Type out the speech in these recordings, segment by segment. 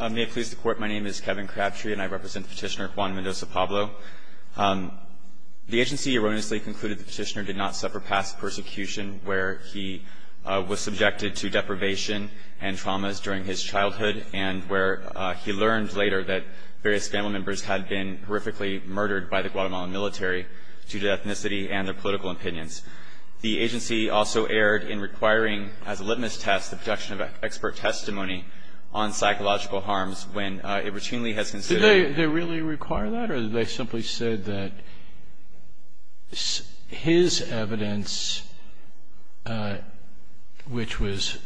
May it please the court, my name is Kevin Crabtree and I represent petitioner Juan Mendoza-Pablo. The agency erroneously concluded the petitioner did not suffer past persecution where he was subjected to deprivation and traumas during his childhood and where he learned later that various family members had been horrifically murdered by the Guatemalan military due to ethnicity and their political opinions. The agency also erred in requiring as a litmus test the production of expert testimony on psychological harms when it routinely has considered Did they really require that or did they simply say that his evidence, which was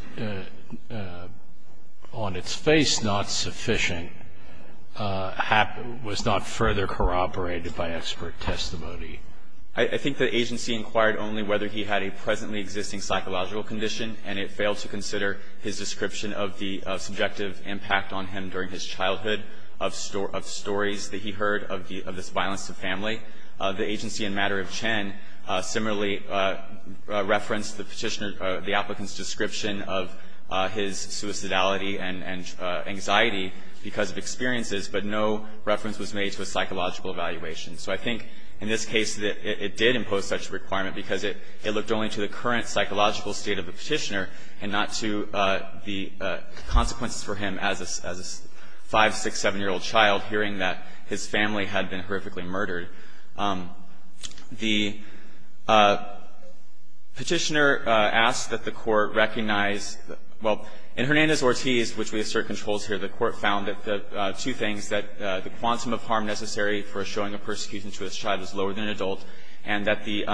on its face not sufficient, was not further corroborated by expert testimony? I think the agency inquired only whether he had a presently existing psychological condition and it failed to consider his description of the subjective impact on him during his childhood of stories that he heard of this violence to family. The agency in matter of Chen similarly referenced the petitioner, the applicant's description of his suicidality and anxiety because of experiences, but no reference was made to a psychological evaluation. So I think in this case it did impose such a requirement because it looked only to the current psychological state of the petitioner and not to the consequences for him as a 5, 6, 7-year-old child hearing that his family had been horrifically murdered. The petitioner asked that the court recognize, well, in Hernandez-Ortiz, which we assert controls here, the court found that two things, that the quantum of harm necessary for showing a persecution to his child is lower than an adult and that the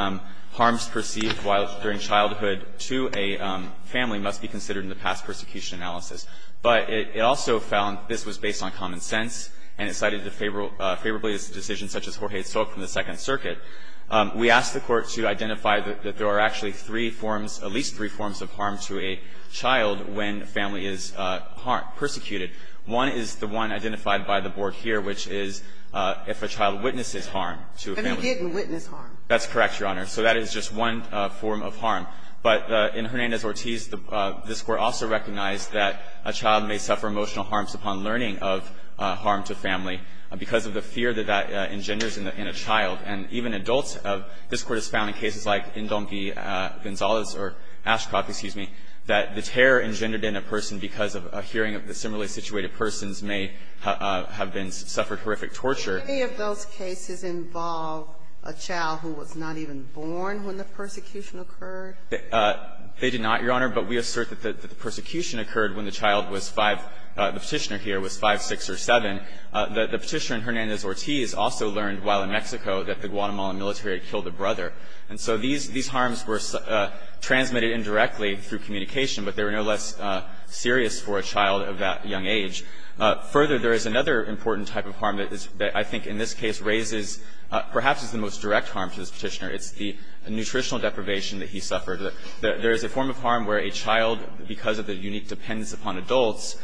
harms perceived during childhood to a family must be considered in the past persecution analysis. But it also found this was based on common sense and it cited the favorablest decisions such as Jorge's talk from the Second Circuit. We asked the court to identify that there are actually three forms, at least three forms of harm to a child when a family is persecuted. One is the one identified by the board here, which is if a child witnesses harm to a family. Ginsburg-Gilmour-Ross That he didn't witness harm. That's correct, Your Honor. So that is just one form of harm. But in Hernandez-Ortiz, this Court also recognized that a child may suffer emotional harms upon learning of harm to a family because of the fear that that engenders in a child. And even adults, this Court has found in cases like Ndonke-Gonzalez or Ashcroft, excuse me, that the terror engendered in a person because of a hearing of the similarly situated persons may have been suffered horrific torture. Ginsburg-Gilmour-Ross Did any of those cases involve a child who was not even born when the persecution occurred? They did not, Your Honor, but we assert that the persecution occurred when the child was 5, the Petitioner here was 5, 6 or 7. The Petitioner in Hernandez-Ortiz also learned while in Mexico that the Guatemalan military had killed a brother. And so these harms were transmitted indirectly through communication, but they were no less serious for a child of that young age. Further, there is another important type of harm that I think in this case raises perhaps is the most direct harm to this Petitioner. It's the nutritional deprivation that he suffered. There is a form of harm where a child, because of the unique dependence upon adults,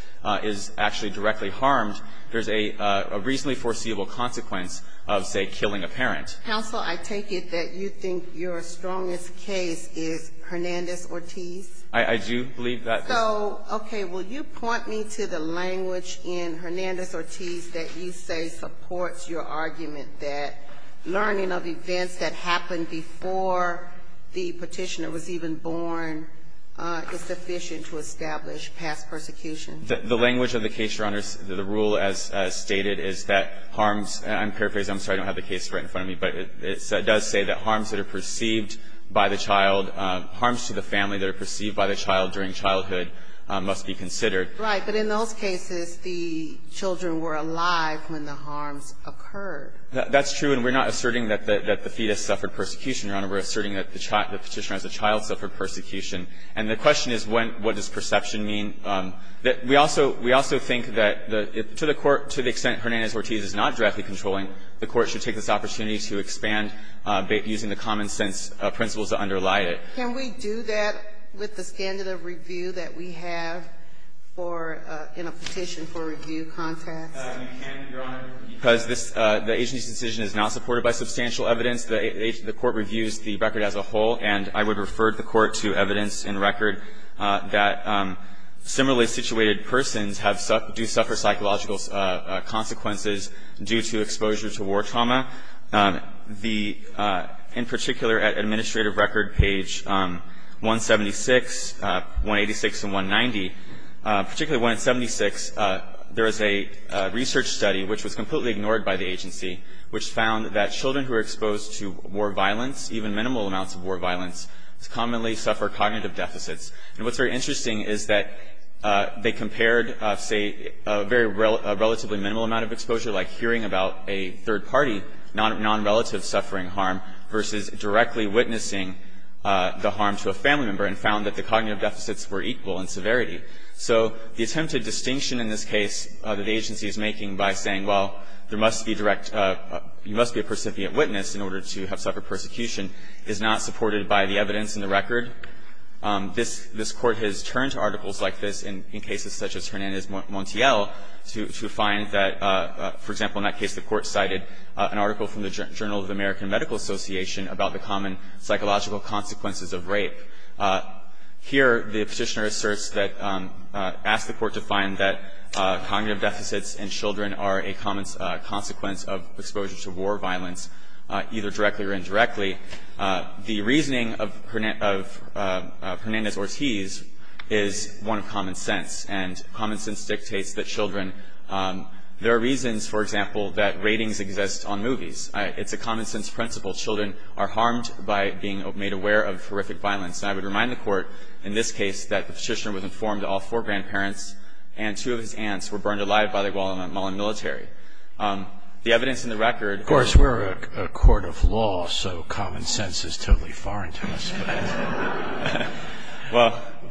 is actually directly harmed. There is a reasonably foreseeable consequence of, say, killing a parent. Counsel, I take it that you think your strongest case is Hernandez-Ortiz? I do believe that. So, okay, will you point me to the language in Hernandez-Ortiz that you say supports your argument that learning of events that happened before the Petitioner was even born is sufficient to establish past persecution? The language of the case, Your Honor, the rule as stated is that harms, and I'm paraphrasing, I'm sorry I don't have the case right in front of me, but it does say that harms that are perceived by the child, harms to the family that are perceived by the child during childhood, must be considered. Right. But in those cases, the children were alive when the harms occurred. That's true, and we're not asserting that the fetus suffered persecution, Your Honor. We're asserting that the Petitioner as a child suffered persecution. And the question is what does perception mean? We also think that to the extent Hernandez-Ortiz is not directly controlling, the Court should take this opportunity to expand using the common-sense principles that underlie it. Can we do that with the standard of review that we have for, in a Petition for Review context? You can, Your Honor, because this, the agency's decision is not supported by substantial evidence. The Court reviews the record as a whole, and I would refer the Court to evidence in record that similarly situated persons have, do suffer psychological consequences due to exposure to war trauma. The, in particular, at Administrative Record page 176, 186, and 190, particularly 176, there is a research study, which was completely ignored by the agency, which found that children who were exposed to war violence, even minimal amounts of war violence, commonly suffer cognitive deficits. And what's very interesting is that they compared, say, a very relatively minimal amount of exposure, like hearing about a third party, nonrelative suffering harm, versus directly witnessing the harm to a family member, and found that the cognitive deficits were equal in severity. So the attempted distinction in this case that the agency is making by saying, well, there must be direct, you must be a percipient witness in order to have suffered persecution, is not supported by the evidence in the record. This Court has turned to articles like this in cases such as Hernandez-Montiel to find that, for example, in that case the Court cited an article from the Journal of the American Medical Association about the common psychological consequences of rape. Here, the Petitioner asserts that, asks the Court to find that cognitive deficits in children are a common consequence of exposure to war violence, either directly or indirectly. The reasoning of Hernandez-Ortiz is one of common sense, and common sense dictates that children, there are reasons, for example, that ratings exist on movies. It's a common sense principle. Children are harmed by being made aware of horrific violence. And I would remind the Court, in this case, that the Petitioner was informed that all four grandparents and two of his aunts were burned alive by the Guatemalan military. The evidence in the record- Of course, we're a court of law, so common sense is totally foreign to us.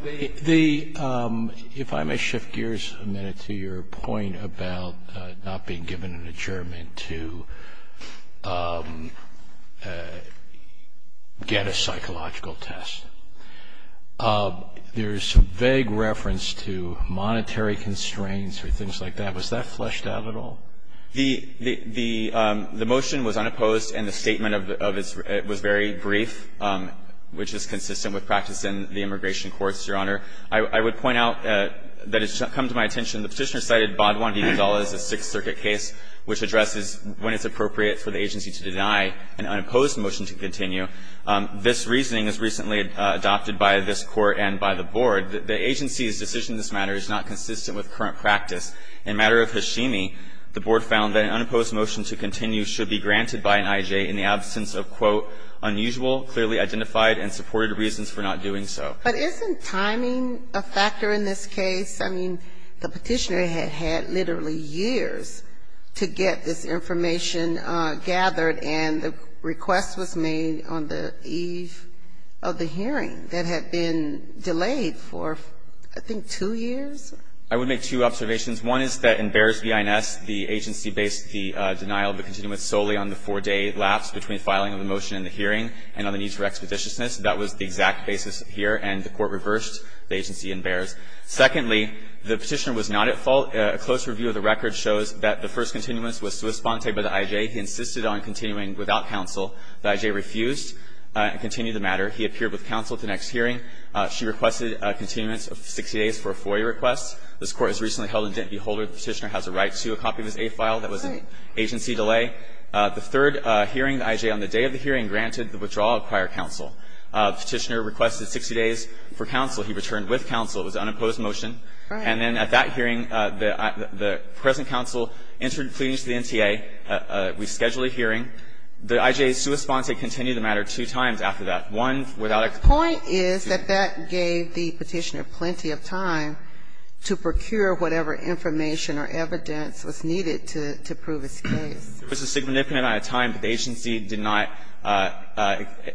If I may shift gears a minute to your point about not being given an adjournment to get a psychological test, there's vague reference to monetary constraints or things like that. Was that fleshed out at all? The motion was unopposed, and the statement of its was very brief, which is consistent with practice in the immigration courts, Your Honor. I would point out that it's come to my attention, the Petitioner cited Baudoin v. Gonzales, a Sixth Circuit case, which addresses when it's appropriate for the agency to deny an unopposed motion to continue. This reasoning is recently adopted by this Court and by the Board. The agency's decision in this matter is not consistent with current practice. In matter of Hashimi, the Board found that an unopposed motion to continue should be granted by an I.J. in the absence of, quote, unusual, clearly identified and supported reasons for not doing so. But isn't timing a factor in this case? I mean, the Petitioner had had literally years to get this information gathered, and the request was made on the eve of the hearing that had been delayed for, I think, two years? I would make two observations. One is that in Bears v. INS, the agency based the denial of the continuance solely on the four-day lapse between filing of the motion in the hearing and on the needs for expeditiousness. That was the exact basis here, and the Court reversed the agency in Bears. Secondly, the Petitioner was not at fault. A close review of the record shows that the first continuance was to a sponte by the I.J. He insisted on continuing without counsel. The I.J. refused to continue the matter. He appeared with counsel at the next hearing. She requested a continuance of 60 days for a four-year request. This Court has recently held in Dent v. Holder. The Petitioner has a right to a copy of his A file. That was an agency delay. The third hearing, the I.J. on the day of the hearing, granted the withdrawal of prior counsel. The Petitioner requested 60 days for counsel. He returned with counsel. It was an unopposed motion. And then at that hearing, the present counsel entered pleadings to the NTA. We scheduled a hearing. The I.J.'s sui sponte continued the matter two times after that. One, without excuses. The point is that that gave the Petitioner plenty of time to procure whatever information or evidence was needed to prove his case. There was a significant amount of time, but the agency did not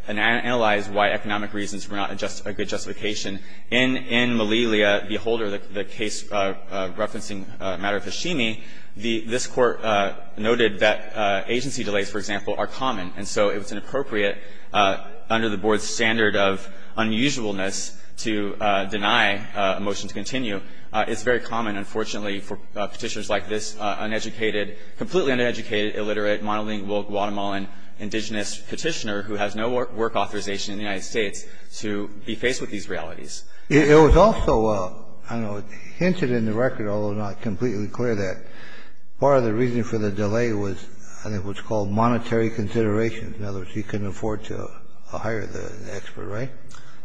analyze why economic reasons were not a good justification. In Malelia v. Holder, the case referencing the matter of Hashimi, this Court noted that agency delays, for example, are common. And so it was inappropriate under the Board's standard of unusualness to deny a motion to continue. It's very common, unfortunately, for Petitioners like this uneducated, completely uneducated, illiterate, monolingual, Guatemalan, indigenous Petitioner who has no work authorization in the United States to be faced with these realities. It was also, I don't know, hinted in the record, although not completely clear, that part of the reason for the delay was, I think, what's called monetary consideration. In other words, he couldn't afford to hire the expert, right?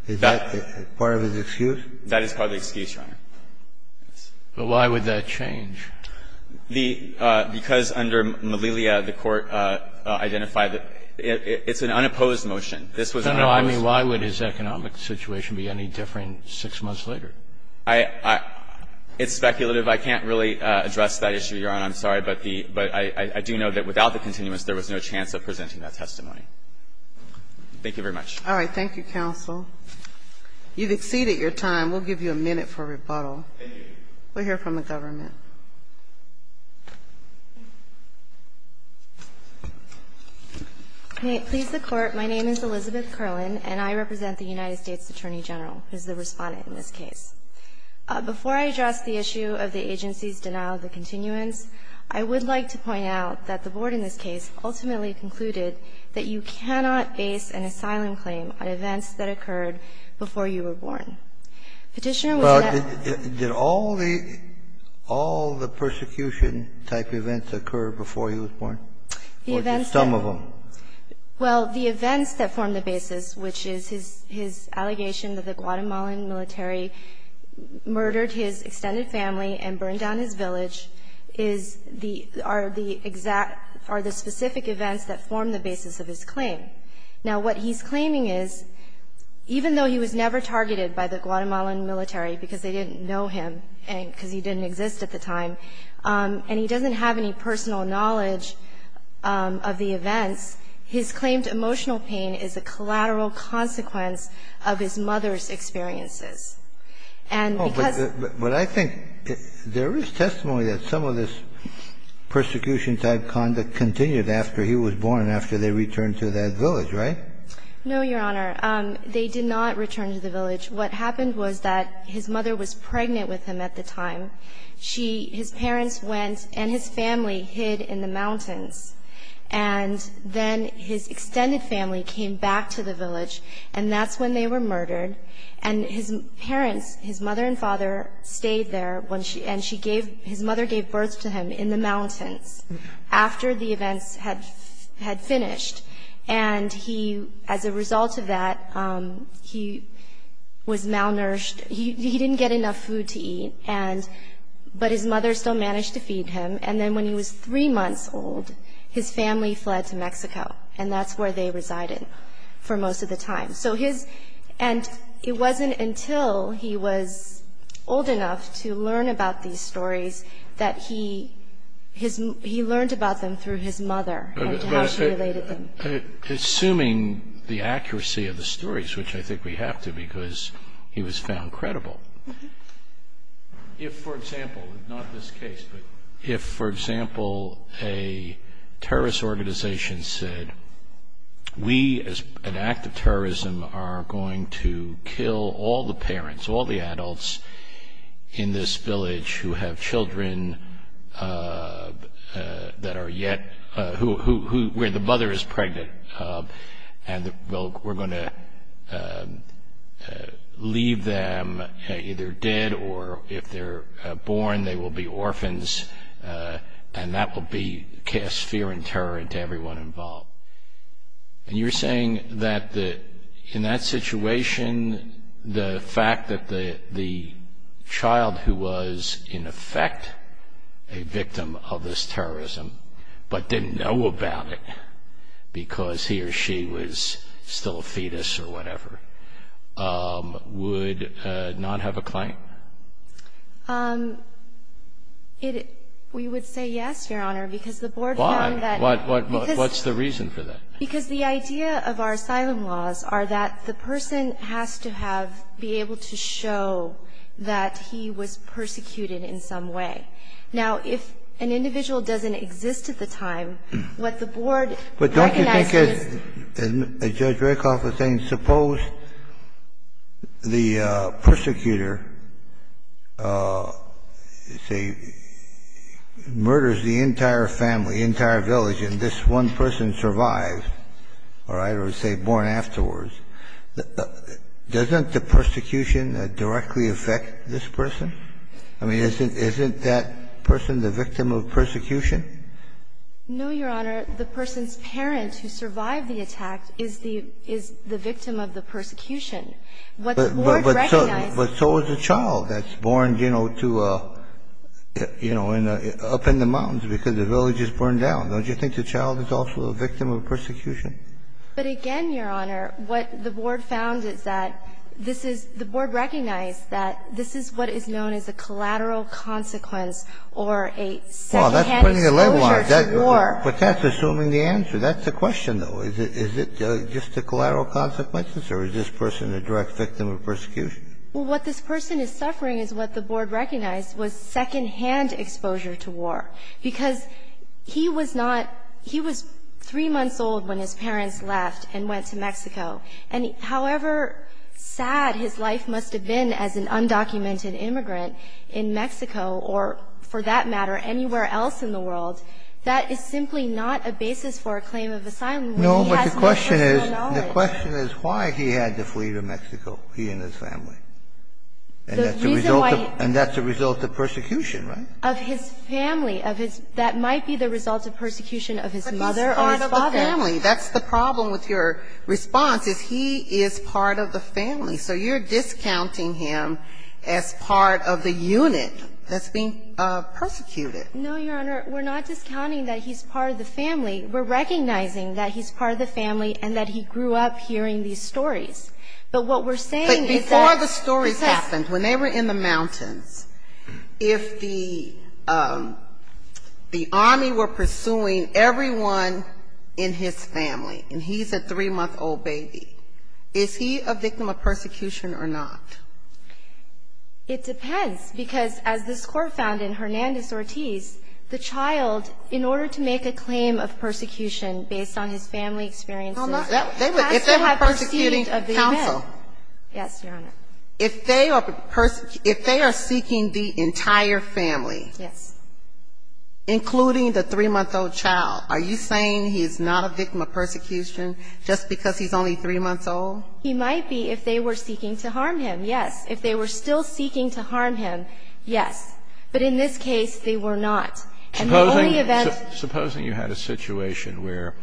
Is that part of his excuse? That is part of the excuse, Your Honor. But why would that change? The – because under Malelia, the Court identified that it's an unopposed motion. This was unopposed. No, no, I mean, why would his economic situation be any different six months later? I – it's speculative. I can't really address that issue, Your Honor. I'm sorry. But the – but I do know that without the continuance, there was no chance of presenting that testimony. Thank you very much. All right. Thank you, counsel. You've exceeded your time. We'll give you a minute for rebuttal. Thank you. We'll hear from the government. May it please the Court, my name is Elizabeth Curlin, and I represent the United States Attorney General, who is the Respondent in this case. Before I address the issue of the agency's denial of the continuance, I would like to point out that the Board in this case ultimately concluded that you cannot base an asylum claim on events that occurred before you were born. Petitioner, was that the case? Well, did all the – all the persecution-type events occur before he was born, or just some of them? Well, the events that formed the basis, which is his allegation that the Guatemalan military murdered his extended family and burned down his village, is the – are the exact – are the specific events that formed the basis of his claim. Now, what he's claiming is, even though he was never targeted by the Guatemalan military, because they didn't know him, and because he didn't exist at the time, and he doesn't have any personal knowledge of the events, his claimed emotional pain is a collateral consequence of his mother's experiences. And because – But I think there is testimony that some of this persecution-type conduct continued after he was born and after they returned to that village, right? No, Your Honor. They did not return to the village. What happened was that his mother was pregnant with him at the time. She – his parents went, and his family hid in the mountains. And then his extended family came back to the village, and that's when they were murdered. And his parents, his mother and father, stayed there when she – and she gave – his mother gave birth to him in the mountains after the events had finished. And he – as a result of that, he was malnourished. He didn't get enough food to eat, and – but his mother still managed to feed him. And then when he was three months old, his family fled to Mexico, and that's where they resided for most of the time. So his – and it wasn't until he was old enough to learn about these stories that he learned about them through his mother and how she related them. Assuming the accuracy of the stories, which I think we have to, because he was found credible. If, for example – not this case, but if, for example, a terrorist organization said, we as an act of terrorism are going to kill all the parents, all the adults in this village who have children that are yet – who – where the mother is pregnant, and we'll – we're going to leave them either dead or, if they're born, they will be orphans, and that will be – cast fear and terror into everyone involved. And you're saying that the – in that situation, the fact that the child who was, in effect, a victim of this terrorism but didn't know about it because he or she was still a fetus or whatever, would not have a claim? It – we would say yes, Your Honor, because the board found that – Why? What – what's the reason for that? Because the idea of our asylum laws are that the person has to have – be able to show that he was persecuted in some way. Now, if an individual doesn't exist at the time, what the board recognizes is – Suppose the persecutor, say, murders the entire family, the entire village, and this one person survives, all right, or, say, born afterwards. Doesn't the persecution directly affect this person? I mean, isn't – isn't that person the victim of persecution? No, Your Honor. The person's parent who survived the attack is the – is the victim of the persecution. What the board recognizes – But so is a child that's born, you know, to a – you know, up in the mountains because the village is burned down. Don't you think the child is also a victim of persecution? But again, Your Honor, what the board found is that this is – the board recognized that this is what is known as a collateral consequence or a second-hand exposure to war. Well, that's putting a leg wire. But that's assuming the answer. That's the question, though. Is it just the collateral consequences, or is this person a direct victim of persecution? Well, what this person is suffering is what the board recognized was second-hand exposure to war, because he was not – he was three months old when his parents left and went to Mexico. And however sad his life must have been as an undocumented immigrant in Mexico or, for that matter, anywhere else in the world, that is simply not a basis for a claim of asylum when he has no personal knowledge. No, but the question is why he had to flee to Mexico, he and his family. And that's a result of – and that's a result of persecution, right? Of his family, of his – that might be the result of persecution of his mother or his father. But he's part of the family. That's the problem with your response, is he is part of the family. So you're discounting him as part of the unit that's being persecuted. No, Your Honor. We're not discounting that he's part of the family. We're recognizing that he's part of the family and that he grew up hearing these stories. But what we're saying is that – But before the stories happened, when they were in the mountains, if the army were pursuing everyone in his family, and he's a three-month-old baby, is he a victim of persecution or not? It depends, because as this Court found in Hernandez-Ortiz, the child, in order to make a claim of persecution based on his family experiences, has to have the seat If they were persecuting counsel. Yes, Your Honor. If they are – if they are seeking the entire family. Yes. Including the three-month-old child. Are you saying he's not a victim of persecution just because he's only three months old? He might be if they were seeking to harm him, yes. If they were still seeking to harm him, yes. But in this case, they were not. And the only event – Supposing – supposing you had a situation where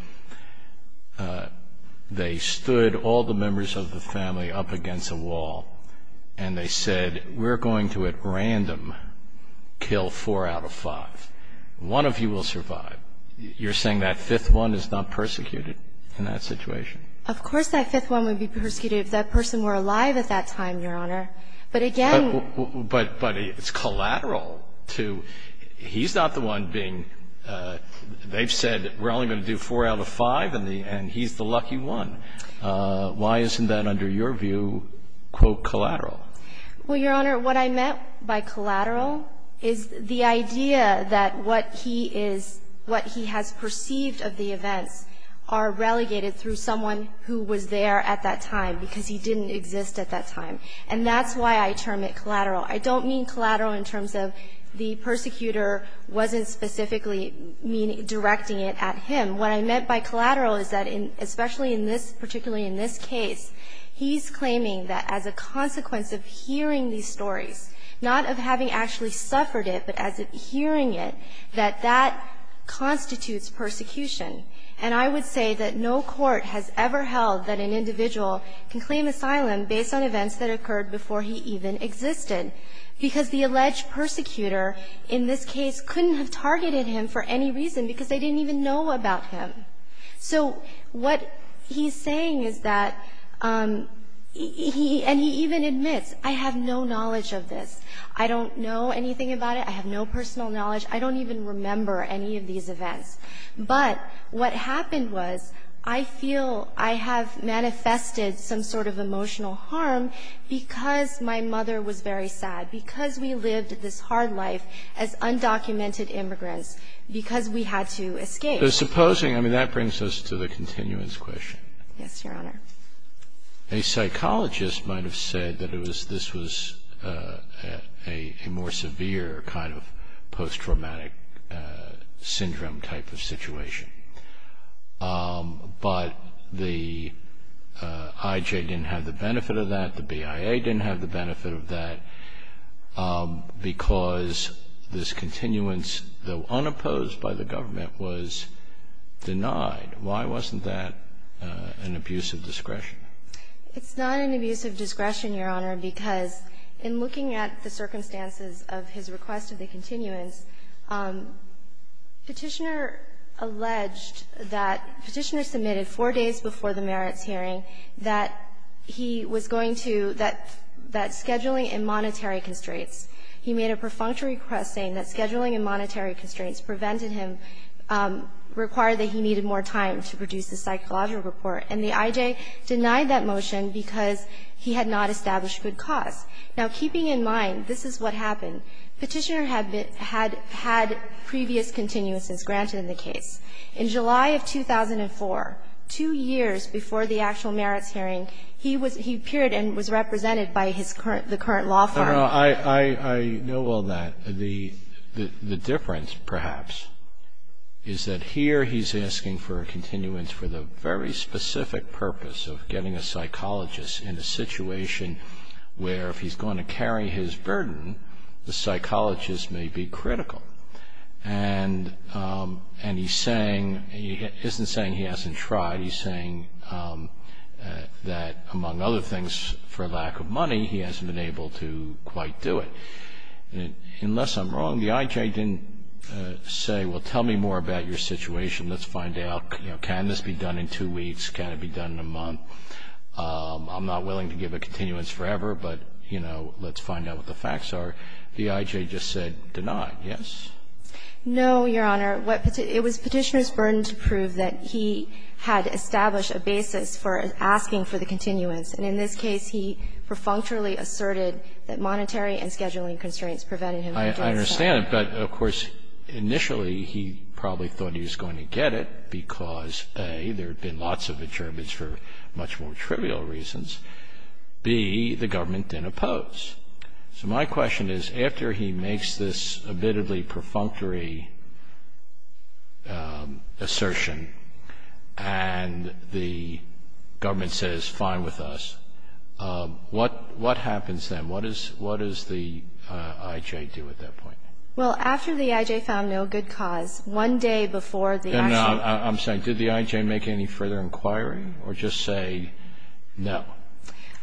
they stood all the members of the family up against a wall and they said, we're going to at random kill four out of five. One of you will survive. You're saying that fifth one is not persecuted in that situation? Of course that fifth one would be persecuted if that person were alive at that time, Your Honor. But again – But – but it's collateral to – he's not the one being – they've said we're only going to do four out of five, and he's the lucky one. Why isn't that, under your view, quote, collateral? Well, Your Honor, what I meant by collateral is the idea that what he is – what he has perceived of the events are relegated through someone who was there at that time, because he didn't exist at that time. And that's why I term it collateral. I don't mean collateral in terms of the persecutor wasn't specifically directing it at him. What I meant by collateral is that in – especially in this – particularly in this case, he's claiming that as a consequence of hearing these stories, not of having actually suffered it, but as of hearing it, that that constitutes persecution. And I would say that no court has ever held that an individual can claim asylum based on events that occurred before he even existed, because the alleged persecutor in this case couldn't have targeted him for any reason, because they didn't even know about him. So what he's saying is that he – and he even admits, I have no knowledge of this. I don't know anything about it. I have no personal knowledge. I don't even remember any of these events. But what happened was I feel I have manifested some sort of emotional harm because my mother was very sad, because we lived this hard life as undocumented immigrants, because we had to escape. The supposing – I mean, that brings us to the continuance question. Yes, Your Honor. A psychologist might have said that this was a more severe kind of post-traumatic syndrome type of situation. But the IJ didn't have the benefit of that. The BIA didn't have the benefit of that, because this continuance, though unopposed by the government, was denied. Why wasn't that an abuse of discretion? It's not an abuse of discretion, Your Honor, because in looking at the circumstances of his request of the continuance, Petitioner alleged that Petitioner submitted four days before the merits hearing that he was going to – that scheduling and monetary constraints. He made a perfunctory request saying that scheduling and monetary constraints prevented him – required that he needed more time to produce a psychological report, and the IJ denied that motion because he had not established good cause. Now, keeping in mind this is what happened, Petitioner had been – had I know all that. The difference, perhaps, is that here he's asking for a continuance for the very specific purpose of getting a psychologist in a situation where if he's going to carry his burden, the psychologist may be critical. And he's saying – he isn't saying he hasn't tried. He's saying that, among other things, for lack of money he hasn't been able to quite do it. Unless I'm wrong, the IJ didn't say, well, tell me more about your situation, let's find out, you know, can this be done in two weeks, can it be done in a month? I'm not willing to give a continuance forever, but, you know, let's find out what the facts are. The IJ just said denied. Yes? No, Your Honor. What Petitioner – it was Petitioner's burden to prove that he had established a basis for asking for the continuance, and in this case he perfunctorily asserted that monetary and scheduling constraints prevented him from doing so. I understand it, but, of course, initially he probably thought he was going to get it because, A, there had been lots of adjournments for much more trivial reasons, B, the government didn't oppose. So my question is, after he makes this admittedly perfunctory assertion and the government says, fine with us, what happens then? What does the IJ do at that point? Well, after the IJ found no good cause, one day before the actual – And I'm saying, did the IJ make any further inquiry or just say no?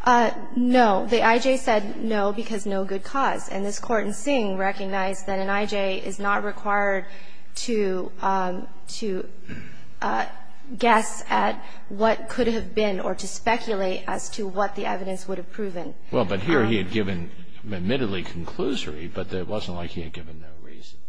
No. The IJ said no because no good cause. And this Court in Sing recognized that an IJ is not required to – to guess at what could have been or to speculate as to what the evidence would have proven. Well, but here he had given admittedly conclusory, but it wasn't like he had given no reason.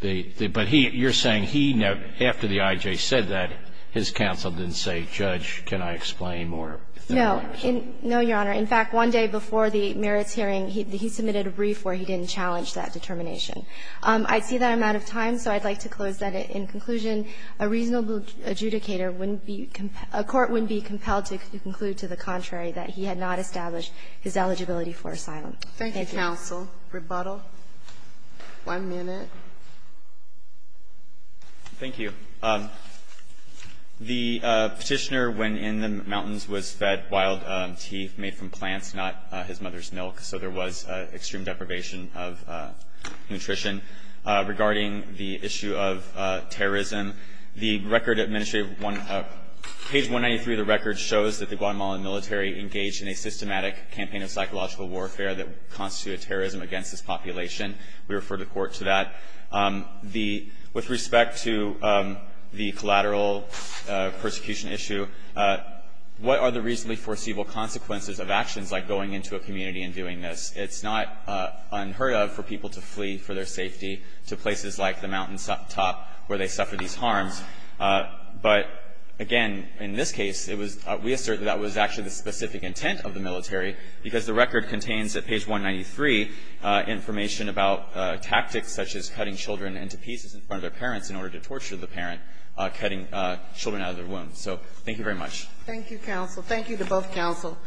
The – but he – you're saying he never – after the IJ said that, his counsel didn't say, Judge, can I explain, or, you know, what was it? No. No, Your Honor. In fact, one day before the merits hearing, he submitted a brief where he didn't challenge that determination. I see that I'm out of time, so I'd like to close that in conclusion. A reasonable adjudicator wouldn't be – a court wouldn't be compelled to conclude to the contrary that he had not established his eligibility for asylum. Thank you. Thank you, counsel. Rebuttal. One minute. Thank you. The Petitioner went in the mountains, was fed wild tea made from plants, not his mother's milk, so there was extreme deprivation of nutrition. Regarding the issue of terrorism, the record administrative – page 193 of the record shows that the Guatemalan military engaged in a systematic campaign of psychological warfare that constituted terrorism against its population. We refer the Court to that. The – with respect to the collateral persecution issue, what are the reasonably foreseeable consequences of actions like going into a community and doing this? It's not unheard of for people to flee for their safety to places like the mountain top where they suffer these harms. But, again, in this case, it was – we assert that that was actually the specific intent of the military, because the record contains at page 193 information about tactics such as cutting children into pieces in front of their parents in order to torture the parent, cutting children out of their wombs. So thank you very much. Thank you, counsel. Thank you to both counsel.